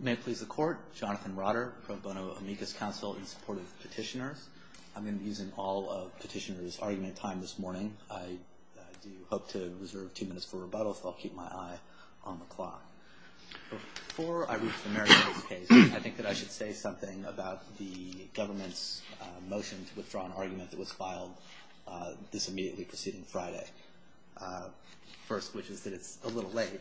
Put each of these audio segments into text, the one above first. May it please the Court, Jonathan Rotter, Pro Bono Amicus Council in support of petitioners. I'm going to be using all of petitioners' argument time this morning. I do hope to reserve two minutes for rebuttal, so I'll keep my eye on the clock. Before I read the merits of this case, I think that I should say something about the government's motion to withdraw an argument that was filed this immediately preceding Friday. First, which is that it's a little late.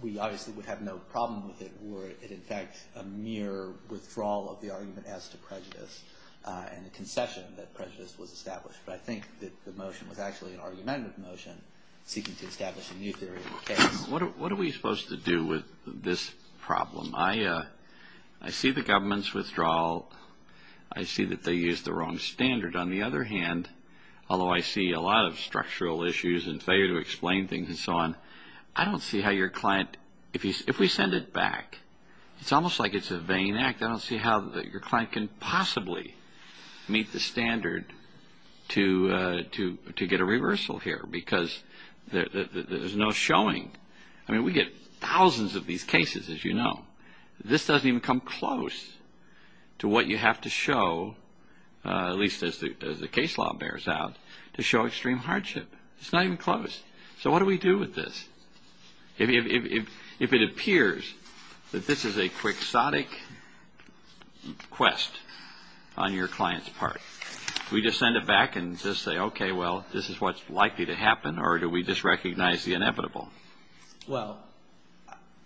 We obviously would have no problem with it were it in fact a mere withdrawal of the argument as to prejudice and a concession that prejudice was established. But I think that the motion was actually an argumentative motion seeking to establish a new theory of the case. What are we supposed to do with this problem? I see the government's withdrawal. I see that they used the wrong standard. On the other hand, although I see a lot of structural issues and failure to explain things and so on, I don't see how your client, if we send it back, it's almost like it's a vain act. I don't see how your client can possibly meet the standard to get a reversal here because there's no showing. I mean, we get thousands of these cases, as you know. This doesn't even come close to what you have to show, at least as the case law bears out, to show extreme hardship. It's not even close. So what do we do with this? If it appears that this is a quixotic quest on your client's part, do we just send it back and just say, okay, well, this is what's likely to happen, or do we just recognize the inevitable? Well,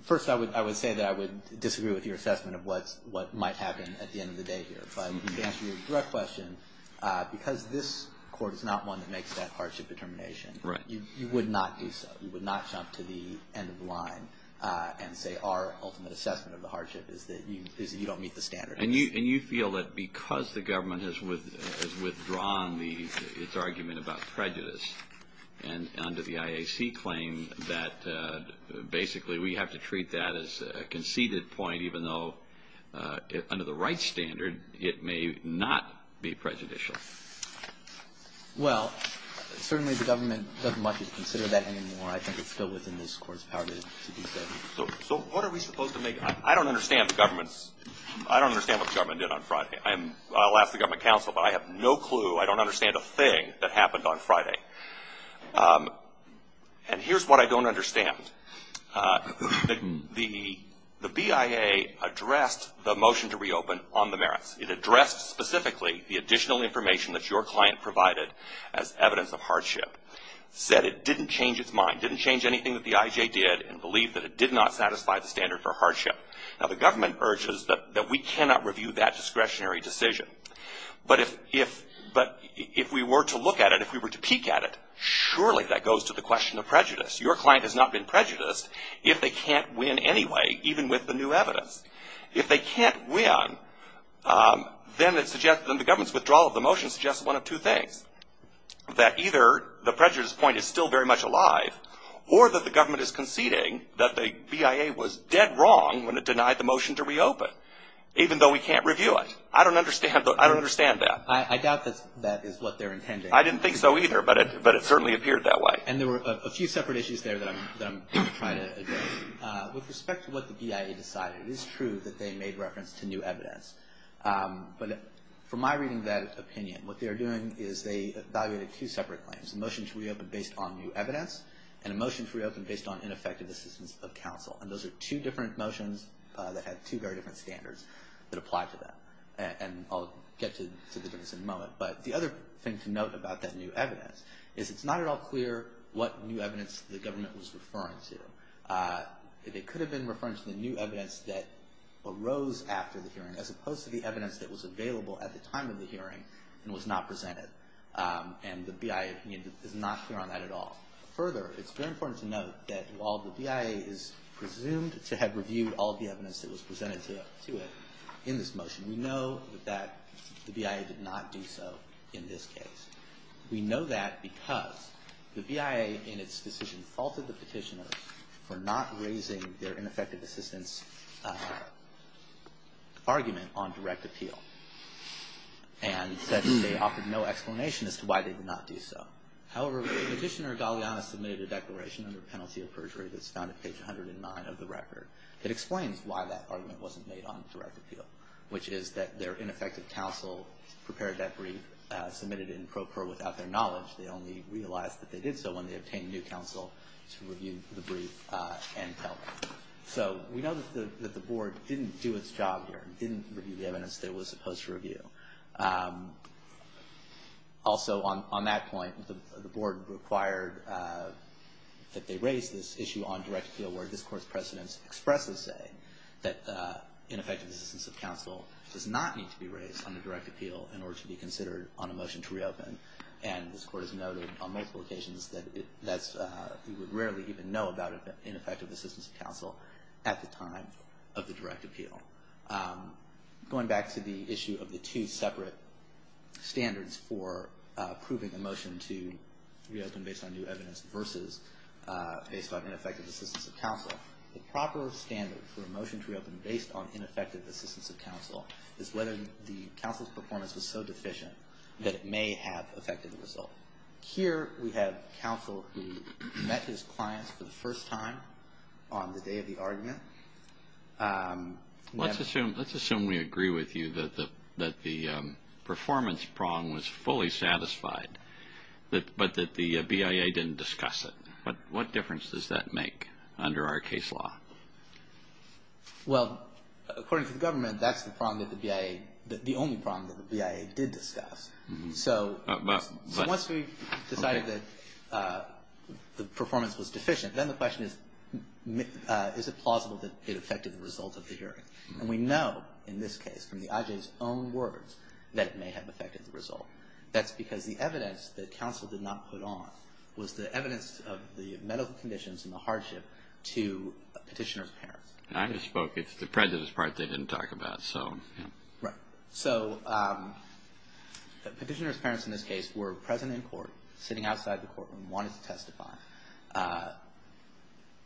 first I would say that I would disagree with your assessment of what might happen at the end of the day here. But to answer your direct question, because this court is not one that makes that hardship determination, you would not do so. You would not jump to the end of the line and say our ultimate assessment of the hardship is that you don't meet the standard. And you feel that because the government has withdrawn its argument about prejudice and under the IAC claim that basically we have to treat that as a conceded point, even though under the right standard it may not be prejudicial. Well, certainly the government doesn't want you to consider that anymore. I think it's still within this court's power to do so. So what are we supposed to make? I don't understand what the government did on Friday. I'll ask the government counsel, but I have no clue. I don't understand a thing that happened on Friday. And here's what I don't understand. The BIA addressed the motion to reopen on the merits. It addressed specifically the additional information that your client provided as evidence of hardship, said it didn't change its mind, didn't change anything that the IJ did, and believed that it did not satisfy the standard for hardship. Now, the government urges that we cannot review that discretionary decision. But if we were to look at it, if we were to peek at it, surely that goes to the question of prejudice. Your client has not been prejudiced if they can't win anyway, even with the new evidence. If they can't win, then the government's withdrawal of the motion suggests one of two things, that either the prejudice point is still very much alive or that the government is conceding that the BIA was dead wrong when it denied the motion to reopen, even though we can't review it. I don't understand that. I doubt that that is what they're intending. I didn't think so either, but it certainly appeared that way. And there were a few separate issues there that I'm going to try to address. With respect to what the BIA decided, it is true that they made reference to new evidence. But from my reading of that opinion, what they're doing is they evaluated two separate claims, a motion to reopen based on new evidence and a motion to reopen based on ineffective assistance of counsel. And those are two different motions that have two very different standards that apply to them. And I'll get to the difference in a moment. But the other thing to note about that new evidence is it's not at all clear what new evidence the government was referring to. It could have been referring to the new evidence that arose after the hearing, as opposed to the evidence that was available at the time of the hearing and was not presented. And the BIA opinion is not clear on that at all. Further, it's very important to note that while the BIA is presumed to have reviewed all of the evidence that was presented to it in this motion, we know that the BIA did not do so in this case. We know that because the BIA in its decision faulted the petitioners for not raising their ineffective assistance argument on direct appeal and said that they offered no explanation as to why they did not do so. However, Petitioner Galeano submitted a declaration under penalty of perjury that's found at page 109 of the record that explains why that argument wasn't made on direct appeal, which is that their ineffective counsel prepared that brief, submitted it in pro per without their knowledge. They only realized that they did so when they obtained new counsel to review the brief and tell them. So we know that the Board didn't do its job here and didn't review the evidence that it was supposed to review. Also, on that point, the Board required that they raise this issue on direct appeal where this Court's precedents expressly say that ineffective assistance of counsel does not need to be raised on a direct appeal in order to be considered on a motion to reopen. And this Court has noted on multiple occasions that we would rarely even know about ineffective assistance of counsel at the time of the direct appeal. Going back to the issue of the two separate standards for approving a motion to reopen based on new evidence versus based on ineffective assistance of counsel, the proper standard for a motion to reopen based on ineffective assistance of counsel is whether the counsel's performance was so deficient that it may have affected the result. Here we have counsel who met his clients for the first time on the day of the argument. Let's assume we agree with you that the performance prong was fully satisfied, but that the BIA didn't discuss it. What difference does that make under our case law? Well, according to the government, that's the prong that the BIA, the only prong that the BIA did discuss. So once we decided that the performance was deficient, then the question is, is it plausible that it affected the result of the hearing? And we know in this case from the IJ's own words that it may have affected the result. That's because the evidence that counsel did not put on was the evidence of the medical conditions and the hardship to a petitioner's parents. I just spoke. It's the prejudice part they didn't talk about. So the petitioner's parents in this case were present in court, sitting outside the courtroom, wanting to testify.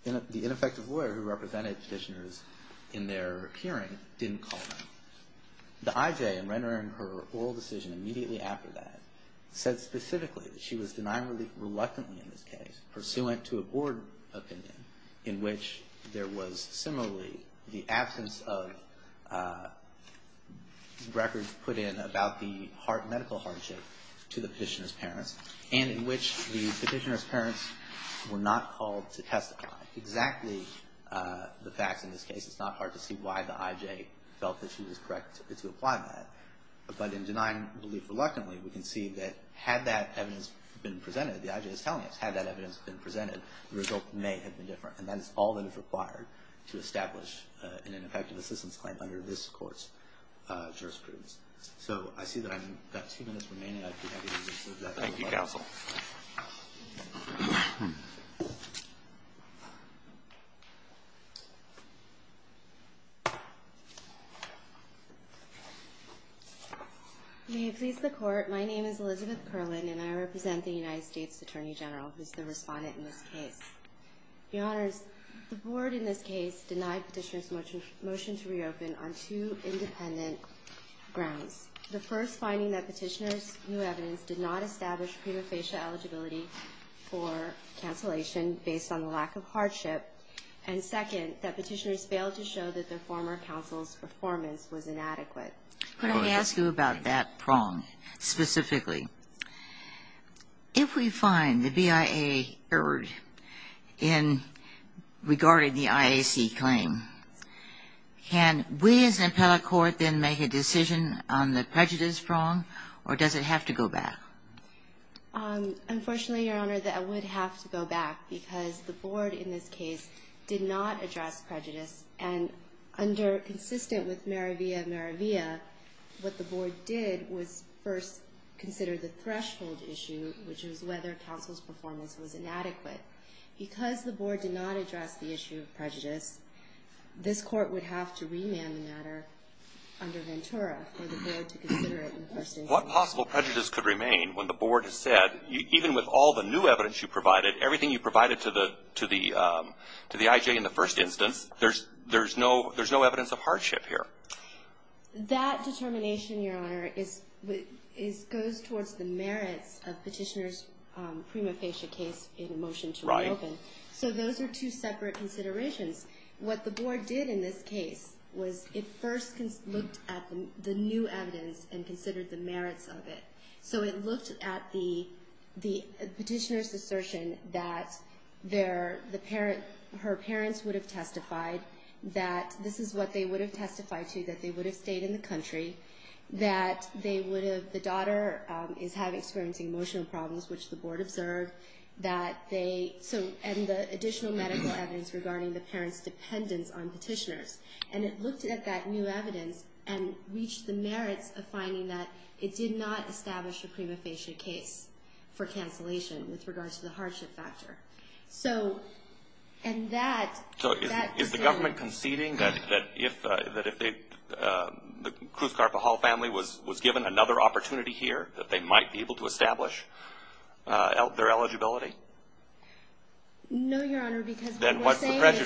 The ineffective lawyer who represented petitioners in their hearing didn't call them. The IJ, in rendering her oral decision immediately after that, said specifically that she was denying relief reluctantly in this case, pursuant to a board opinion in which there was similarly the absence of records put in about the medical hardship to the petitioner's parents, and in which the petitioner's parents were not called to testify. Exactly the facts in this case. It's not hard to see why the IJ felt that she was correct to apply that. But in denying relief reluctantly, we can see that had that evidence been presented, the IJ is telling us, had that evidence been presented, the result may have been different. And that is all that is required to establish an ineffective assistance claim under this court's jurisprudence. So I see that I've got two minutes remaining. Thank you, counsel. May it please the court, my name is Elizabeth Curlin, and I represent the United States Attorney General, who is the respondent in this case. Your Honors, the board in this case denied Petitioner's motion to reopen on two independent grounds. The first, finding that Petitioner's new evidence did not establish prima facie eligibility for cancellation based on the lack of hardship. And second, that Petitioner's failed to show that the former counsel's performance was inadequate. Could I ask you about that prong, specifically? If we find the BIA erred in regarding the IAC claim, can we as an appellate court then make a decision on the prejudice prong, or does it have to go back? Unfortunately, Your Honor, that it would have to go back because the board in this case did not address prejudice. And under, consistent with Maravia Maravia, what the board did was first consider the threshold issue, which was whether counsel's performance was inadequate. Because the board did not address the issue of prejudice, this court would have to remand the matter under Ventura for the board to consider it in the first instance. What possible prejudice could remain when the board has said, even with all the new evidence you provided, everything you provided to the IJ in the first instance, there's no evidence of hardship here. That determination, Your Honor, goes towards the merits of Petitioner's prima facie case in a motion to reopen. So those are two separate considerations. What the board did in this case was it first looked at the new evidence and considered the merits of it. So it looked at the Petitioner's assertion that her parents would have testified, that this is what they would have testified to, that they would have stayed in the country, that the daughter is experiencing emotional problems, which the board observed, and the additional medical evidence regarding the parents' dependence on Petitioner's. And it looked at that new evidence and reached the merits of finding that it did not establish a prima facie case for cancellation with regards to the hardship factor. So, and that... So is the government conceding that if the Cruz-Carpajal family was given another opportunity here, that they might be able to establish their eligibility? No, Your Honor, because what we're saying is... And where is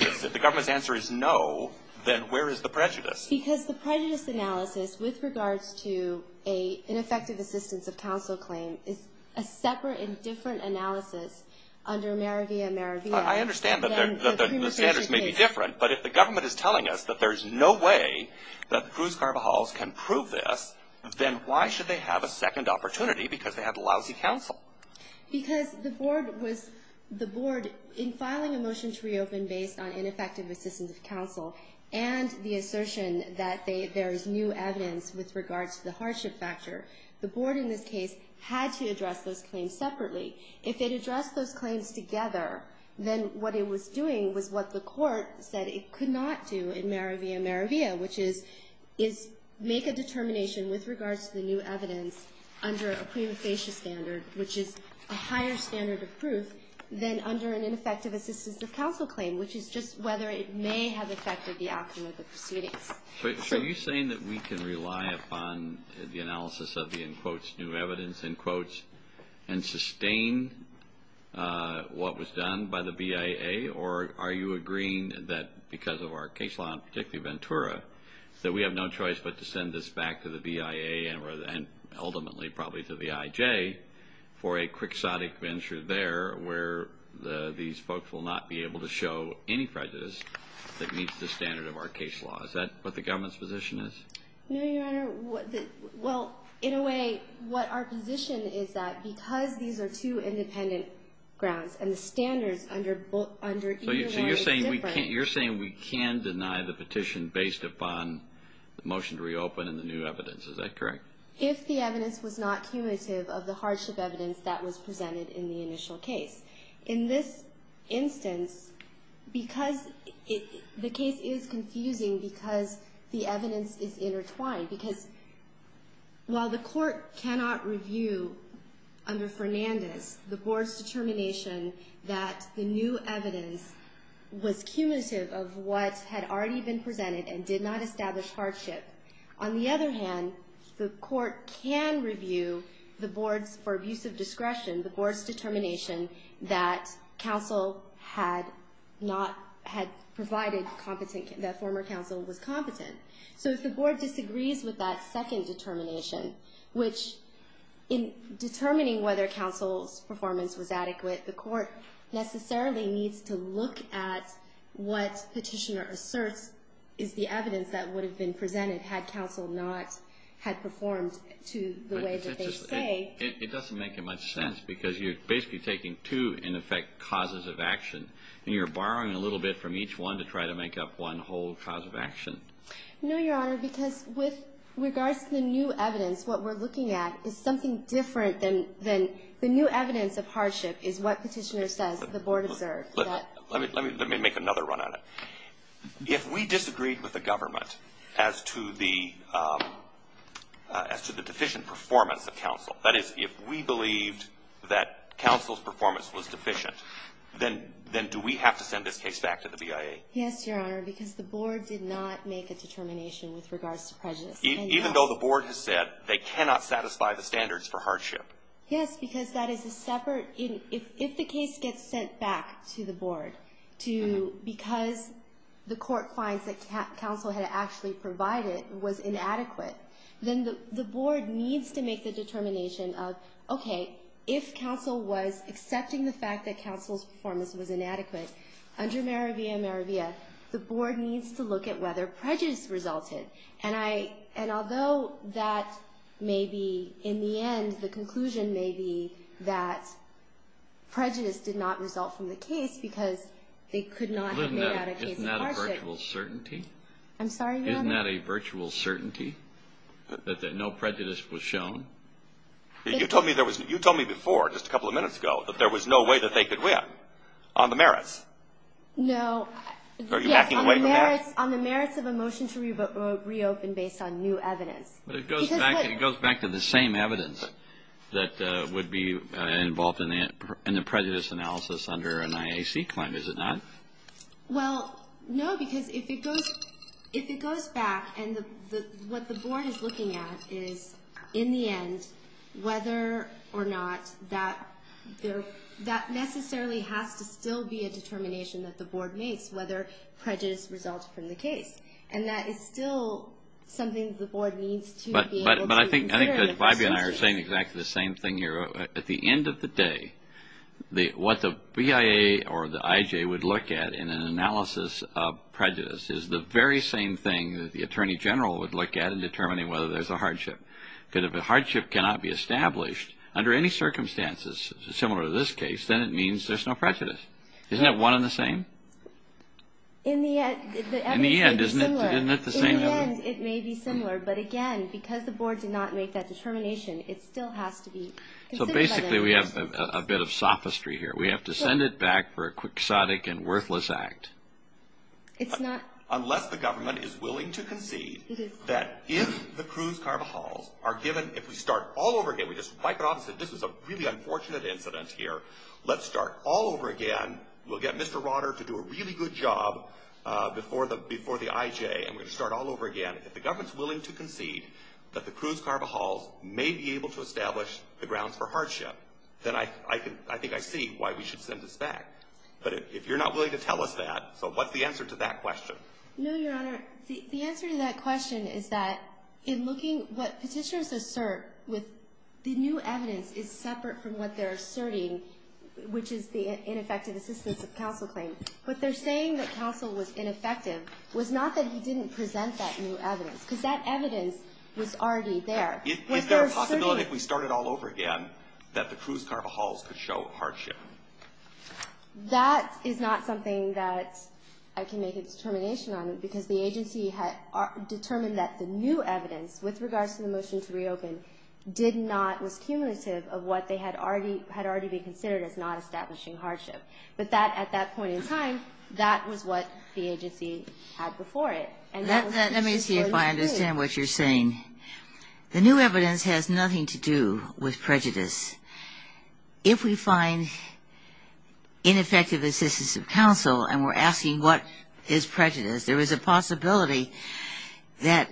the prejudice? Because the prejudice analysis with regards to an ineffective assistance of counsel claim is a separate and different analysis under Merivilla-Merivilla than the prima facie case. I understand that the standards may be different, but if the government is telling us that there's no way that the Cruz-Carpajals can prove this, then why should they have a second opportunity because they have lousy counsel? Because the board was, the board, in filing a motion to reopen based on ineffective assistance of counsel and the assertion that there is new evidence with regards to the hardship factor, the board in this case had to address those claims separately. If it addressed those claims together, then what it was doing was what the court said it could not do in Merivilla-Merivilla, which is make a determination with regards to the new evidence under a prima facie standard, which is a higher standard of proof than under an ineffective assistance of counsel claim, which is just whether it may have affected the outcome of the proceedings. So are you saying that we can rely upon the analysis of the, in quotes, new evidence, in quotes, and sustain what was done by the BIA, or are you agreeing that because of our case law, and particularly Ventura, that we have no choice but to send this back to the BIA and ultimately probably to the IJ for a quixotic venture there where these folks will not be able to show any prejudice that meets the standard of our case law? Is that what the government's position is? No, Your Honor. Well, in a way, what our position is that because these are two independent grounds and the standards under either one are different. So you're saying we can't, you're saying we can deny the petition based upon the motion to reopen and the new evidence. Is that correct? If the evidence was not cumulative of the hardship evidence that was presented in the initial case. In this instance, because the case is confusing because the evidence is intertwined, because while the court cannot review under Fernandez the board's determination that the new evidence was cumulative of what had already been presented and did not establish hardship, on the other hand, the court can review the board's, for abuse of discretion, the board's determination that counsel had not, had provided competent, that former counsel was competent. So if the board disagrees with that second determination, which in determining whether counsel's performance was adequate, the court necessarily needs to look at what petitioner asserts is the evidence that would have been presented had counsel not had performed to the way that they say. It doesn't make much sense because you're basically taking two in effect causes of action and you're borrowing a little bit from each one to try to make up one whole cause of action. No, Your Honor, because with regards to the new evidence, what we're looking at is something different than the new evidence of hardship is what petitioner says the board observed. Let me make another run on it. If we disagreed with the government as to the deficient performance of counsel, that is if we believed that counsel's performance was deficient, then do we have to send this case back to the BIA? Yes, Your Honor, because the board did not make a determination with regards to prejudice. Even though the board has said they cannot satisfy the standards for hardship? Yes, because that is a separate, if the case gets sent back to the board, to because the court finds that counsel had actually provided was inadequate, then the board needs to make the determination of, okay, if counsel was accepting the fact that counsel's performance was inadequate, under Meravia Meravia, the board needs to look at whether prejudice resulted. And although that may be, in the end, the conclusion may be that prejudice did not result from the case because they could not have made out a case of hardship. Isn't that a virtual certainty? I'm sorry, Your Honor? Isn't that a virtual certainty that no prejudice was shown? You told me before, just a couple of minutes ago, that there was no way that they could win on the merits. No. Are you backing away from that? Yes, on the merits of a motion to reopen based on new evidence. But it goes back to the same evidence that would be involved in the prejudice analysis under an IAC claim, is it not? Well, no, because if it goes back and what the board is looking at is, in the end, whether or not that necessarily has to still be a determination that the board makes, whether prejudice results from the case. And that is still something that the board needs to be able to consider. But I think that Vibey and I are saying exactly the same thing here. At the end of the day, what the BIA or the IJ would look at in an analysis of prejudice is the very same thing that the Attorney General would look at in determining whether there's a hardship. Because if a hardship cannot be established under any circumstances similar to this case, then it means there's no prejudice. Isn't that one and the same? In the end, it may be similar. But again, because the board did not make that determination, it still has to be considered. So basically we have a bit of sophistry here. We have to send it back for a quixotic and worthless act. Unless the government is willing to concede that if the Cruz-Carvajal are given, if we start all over again, we just wipe it off and say this is a really unfortunate incident here, let's start all over again, we'll get Mr. Rotter to do a really good job before the IJ, and we're going to start all over again. If the government's willing to concede that the Cruz-Carvajals may be able to establish the grounds for hardship, then I think I see why we should send this back. But if you're not willing to tell us that, so what's the answer to that question? No, Your Honor. The answer to that question is that in looking what petitioners assert with the new evidence is separate from what they're asserting, which is the ineffective assistance of counsel claim. What they're saying that counsel was ineffective was not that he didn't present that new evidence, because that evidence was already there. Is there a possibility if we start it all over again that the Cruz-Carvajals could show hardship? That is not something that I can make a determination on, because the agency determined that the new evidence with regards to the motion to reopen was cumulative of what had already been considered as not establishing hardship. But at that point in time, that was what the agency had before it. Let me see if I understand what you're saying. The new evidence has nothing to do with prejudice. If we find ineffective assistance of counsel and we're asking what is prejudice, there is a possibility that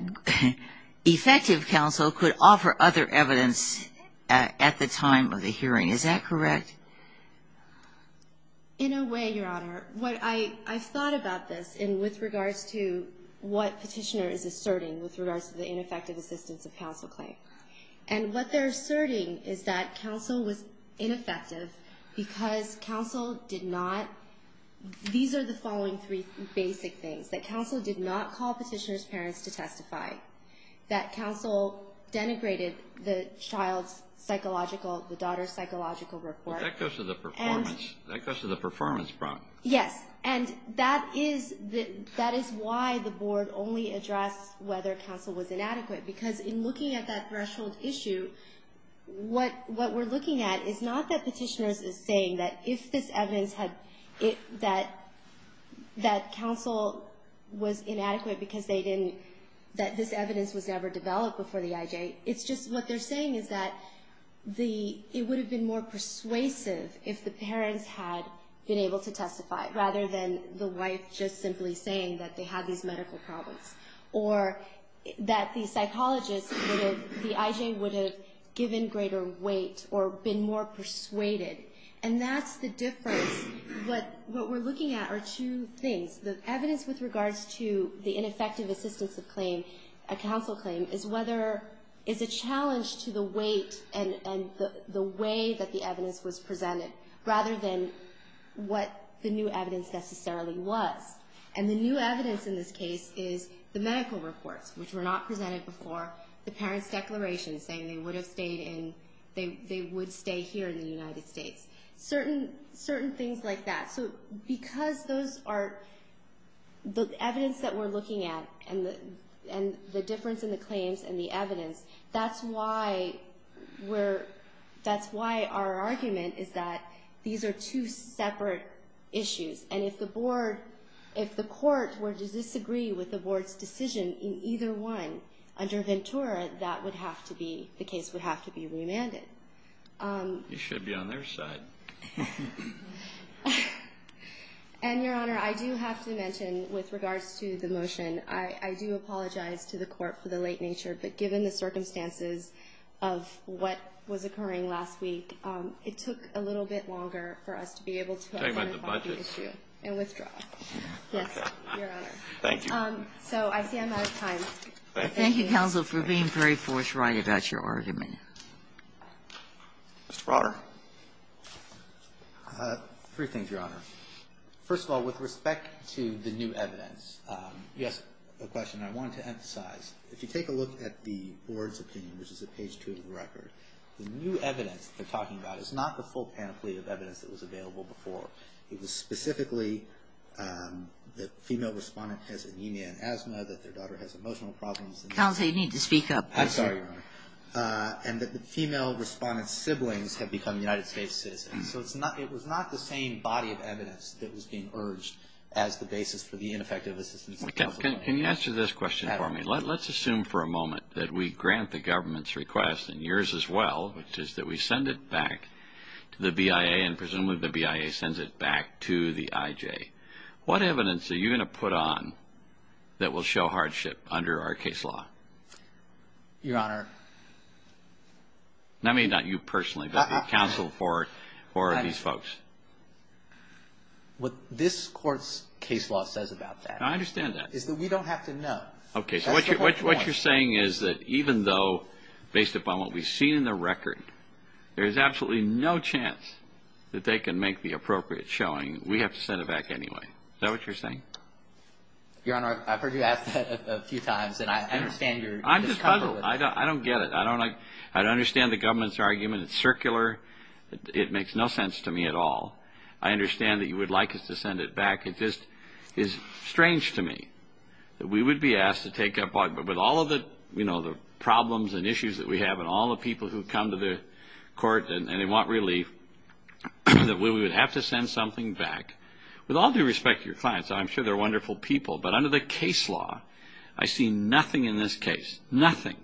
effective counsel could offer other evidence at the time of the hearing. Is that correct? In a way, Your Honor. What I've thought about this with regards to what petitioner is asserting with regards to the ineffective assistance of counsel claim. And what they're asserting is that counsel was ineffective because counsel did not, these are the following three basic things. That counsel did not call petitioner's parents to testify. That counsel denigrated the child's psychological, the daughter's psychological report. That goes to the performance problem. Yes. And that is why the board only addressed whether counsel was inadequate. Because in looking at that threshold issue, what we're looking at is not that petitioner is saying that if this evidence had, that counsel was inadequate because they didn't, that this evidence was never developed before the IJ. It's just what they're saying is that it would have been more persuasive if the parents had been able to testify, rather than the wife just simply saying that they had these medical problems. Or that the psychologist would have, the IJ would have given greater weight or been more persuaded. And that's the difference. What we're looking at are two things. The evidence with regards to the ineffective assistance of claim, a counsel claim, is whether, is a challenge to the weight and the way that the evidence was presented, rather than what the new evidence necessarily was. And the new evidence in this case is the medical reports, which were not presented before the parents' declaration saying they would have stayed in, they would stay here in the United States. Certain things like that. So because those are, the evidence that we're looking at and the difference in the claims and the evidence, that's why we're, that's why our argument is that these are two separate issues. And if the board, if the court were to disagree with the board's decision in either one under Ventura, that would have to be, the case would have to be remanded. You should be on their side. And, Your Honor, I do have to mention, with regards to the motion, I do apologize to the court for the late nature, but given the circumstances of what was occurring last week, it took a little bit longer for us to be able to withdraw. Yes, Your Honor. Thank you. So I see I'm out of time. Thank you. Thank you, counsel, for being very forthright about your argument. Mr. Broder. Three things, Your Honor. First of all, with respect to the new evidence, you asked a question I wanted to emphasize. If you take a look at the board's opinion, which is at page 2 of the record, the new evidence they're talking about is not the full pamphlet of evidence that was available before. It was specifically that the female respondent has anemia and asthma, that their daughter has emotional problems. Counsel, you need to speak up. I'm sorry, Your Honor. And that the female respondent's siblings have become United States citizens. So it was not the same body of evidence that was being urged as the basis for the ineffective assistance. Can you answer this question for me? Let's assume for a moment that we grant the government's request, and yours as well, which is that we send it back to the BIA, and presumably the BIA sends it back to the IJ. What evidence are you going to put on that will show hardship under our case law? Your Honor. I mean, not you personally, but counsel for these folks. What this court's case law says about that is that we don't have to know. Okay. So what you're saying is that even though, based upon what we've seen in the record, there is absolutely no chance that they can make the appropriate showing. We have to send it back anyway. Is that what you're saying? Your Honor, I've heard you ask that a few times, and I understand your discomfort with it. I'm just puzzled. I don't get it. I don't understand the government's argument. It's circular. It makes no sense to me at all. I understand that you would like us to send it back. It just is strange to me that we would be asked to take up all of the problems and issues that we have and all the people who come to the court and they want relief, that we would have to send something back. With all due respect to your clients, I'm sure they're wonderful people, but under the case law, I see nothing in this case, nothing,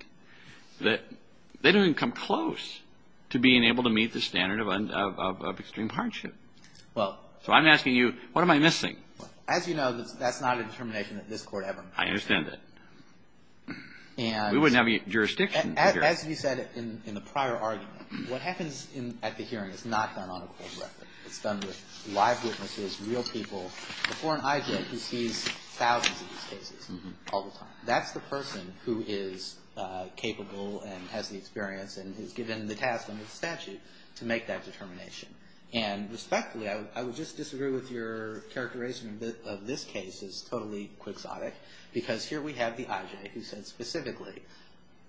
that they don't even come close to being able to meet the standard of extreme hardship. So I'm asking you, what am I missing? As you know, that's not a determination that this Court ever made. I understand that. And we wouldn't have jurisdiction here. As you said in the prior argument, what happens at the hearing is not done on a court record. It's done with live witnesses, real people, before an IJ who sees thousands of these cases all the time. That's the person who is capable and has the experience and has given the task under the statute to make that determination. And respectfully, I would just disagree with your characterization of this case as totally quixotic because here we have the IJ who said specifically,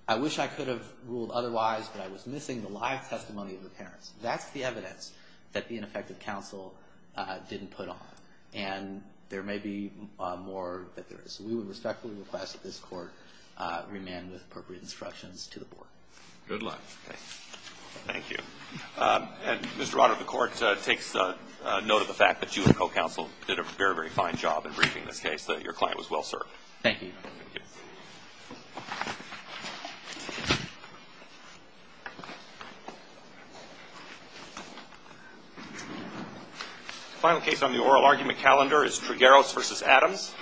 I wish I could have ruled otherwise, but I was missing the live testimony of the parents. That's the evidence that the ineffective counsel didn't put on. And there may be more that there is. We would respectfully request that this Court remand with appropriate instructions to the Board. Good luck. Thank you. And, Mr. Roddard, the Court takes note of the fact that you and the co-counsel did a very, very fine job in briefing this case, that your client was well served. Thank you. Thank you. The final case on the oral argument calendar is Trigueros v. Adams.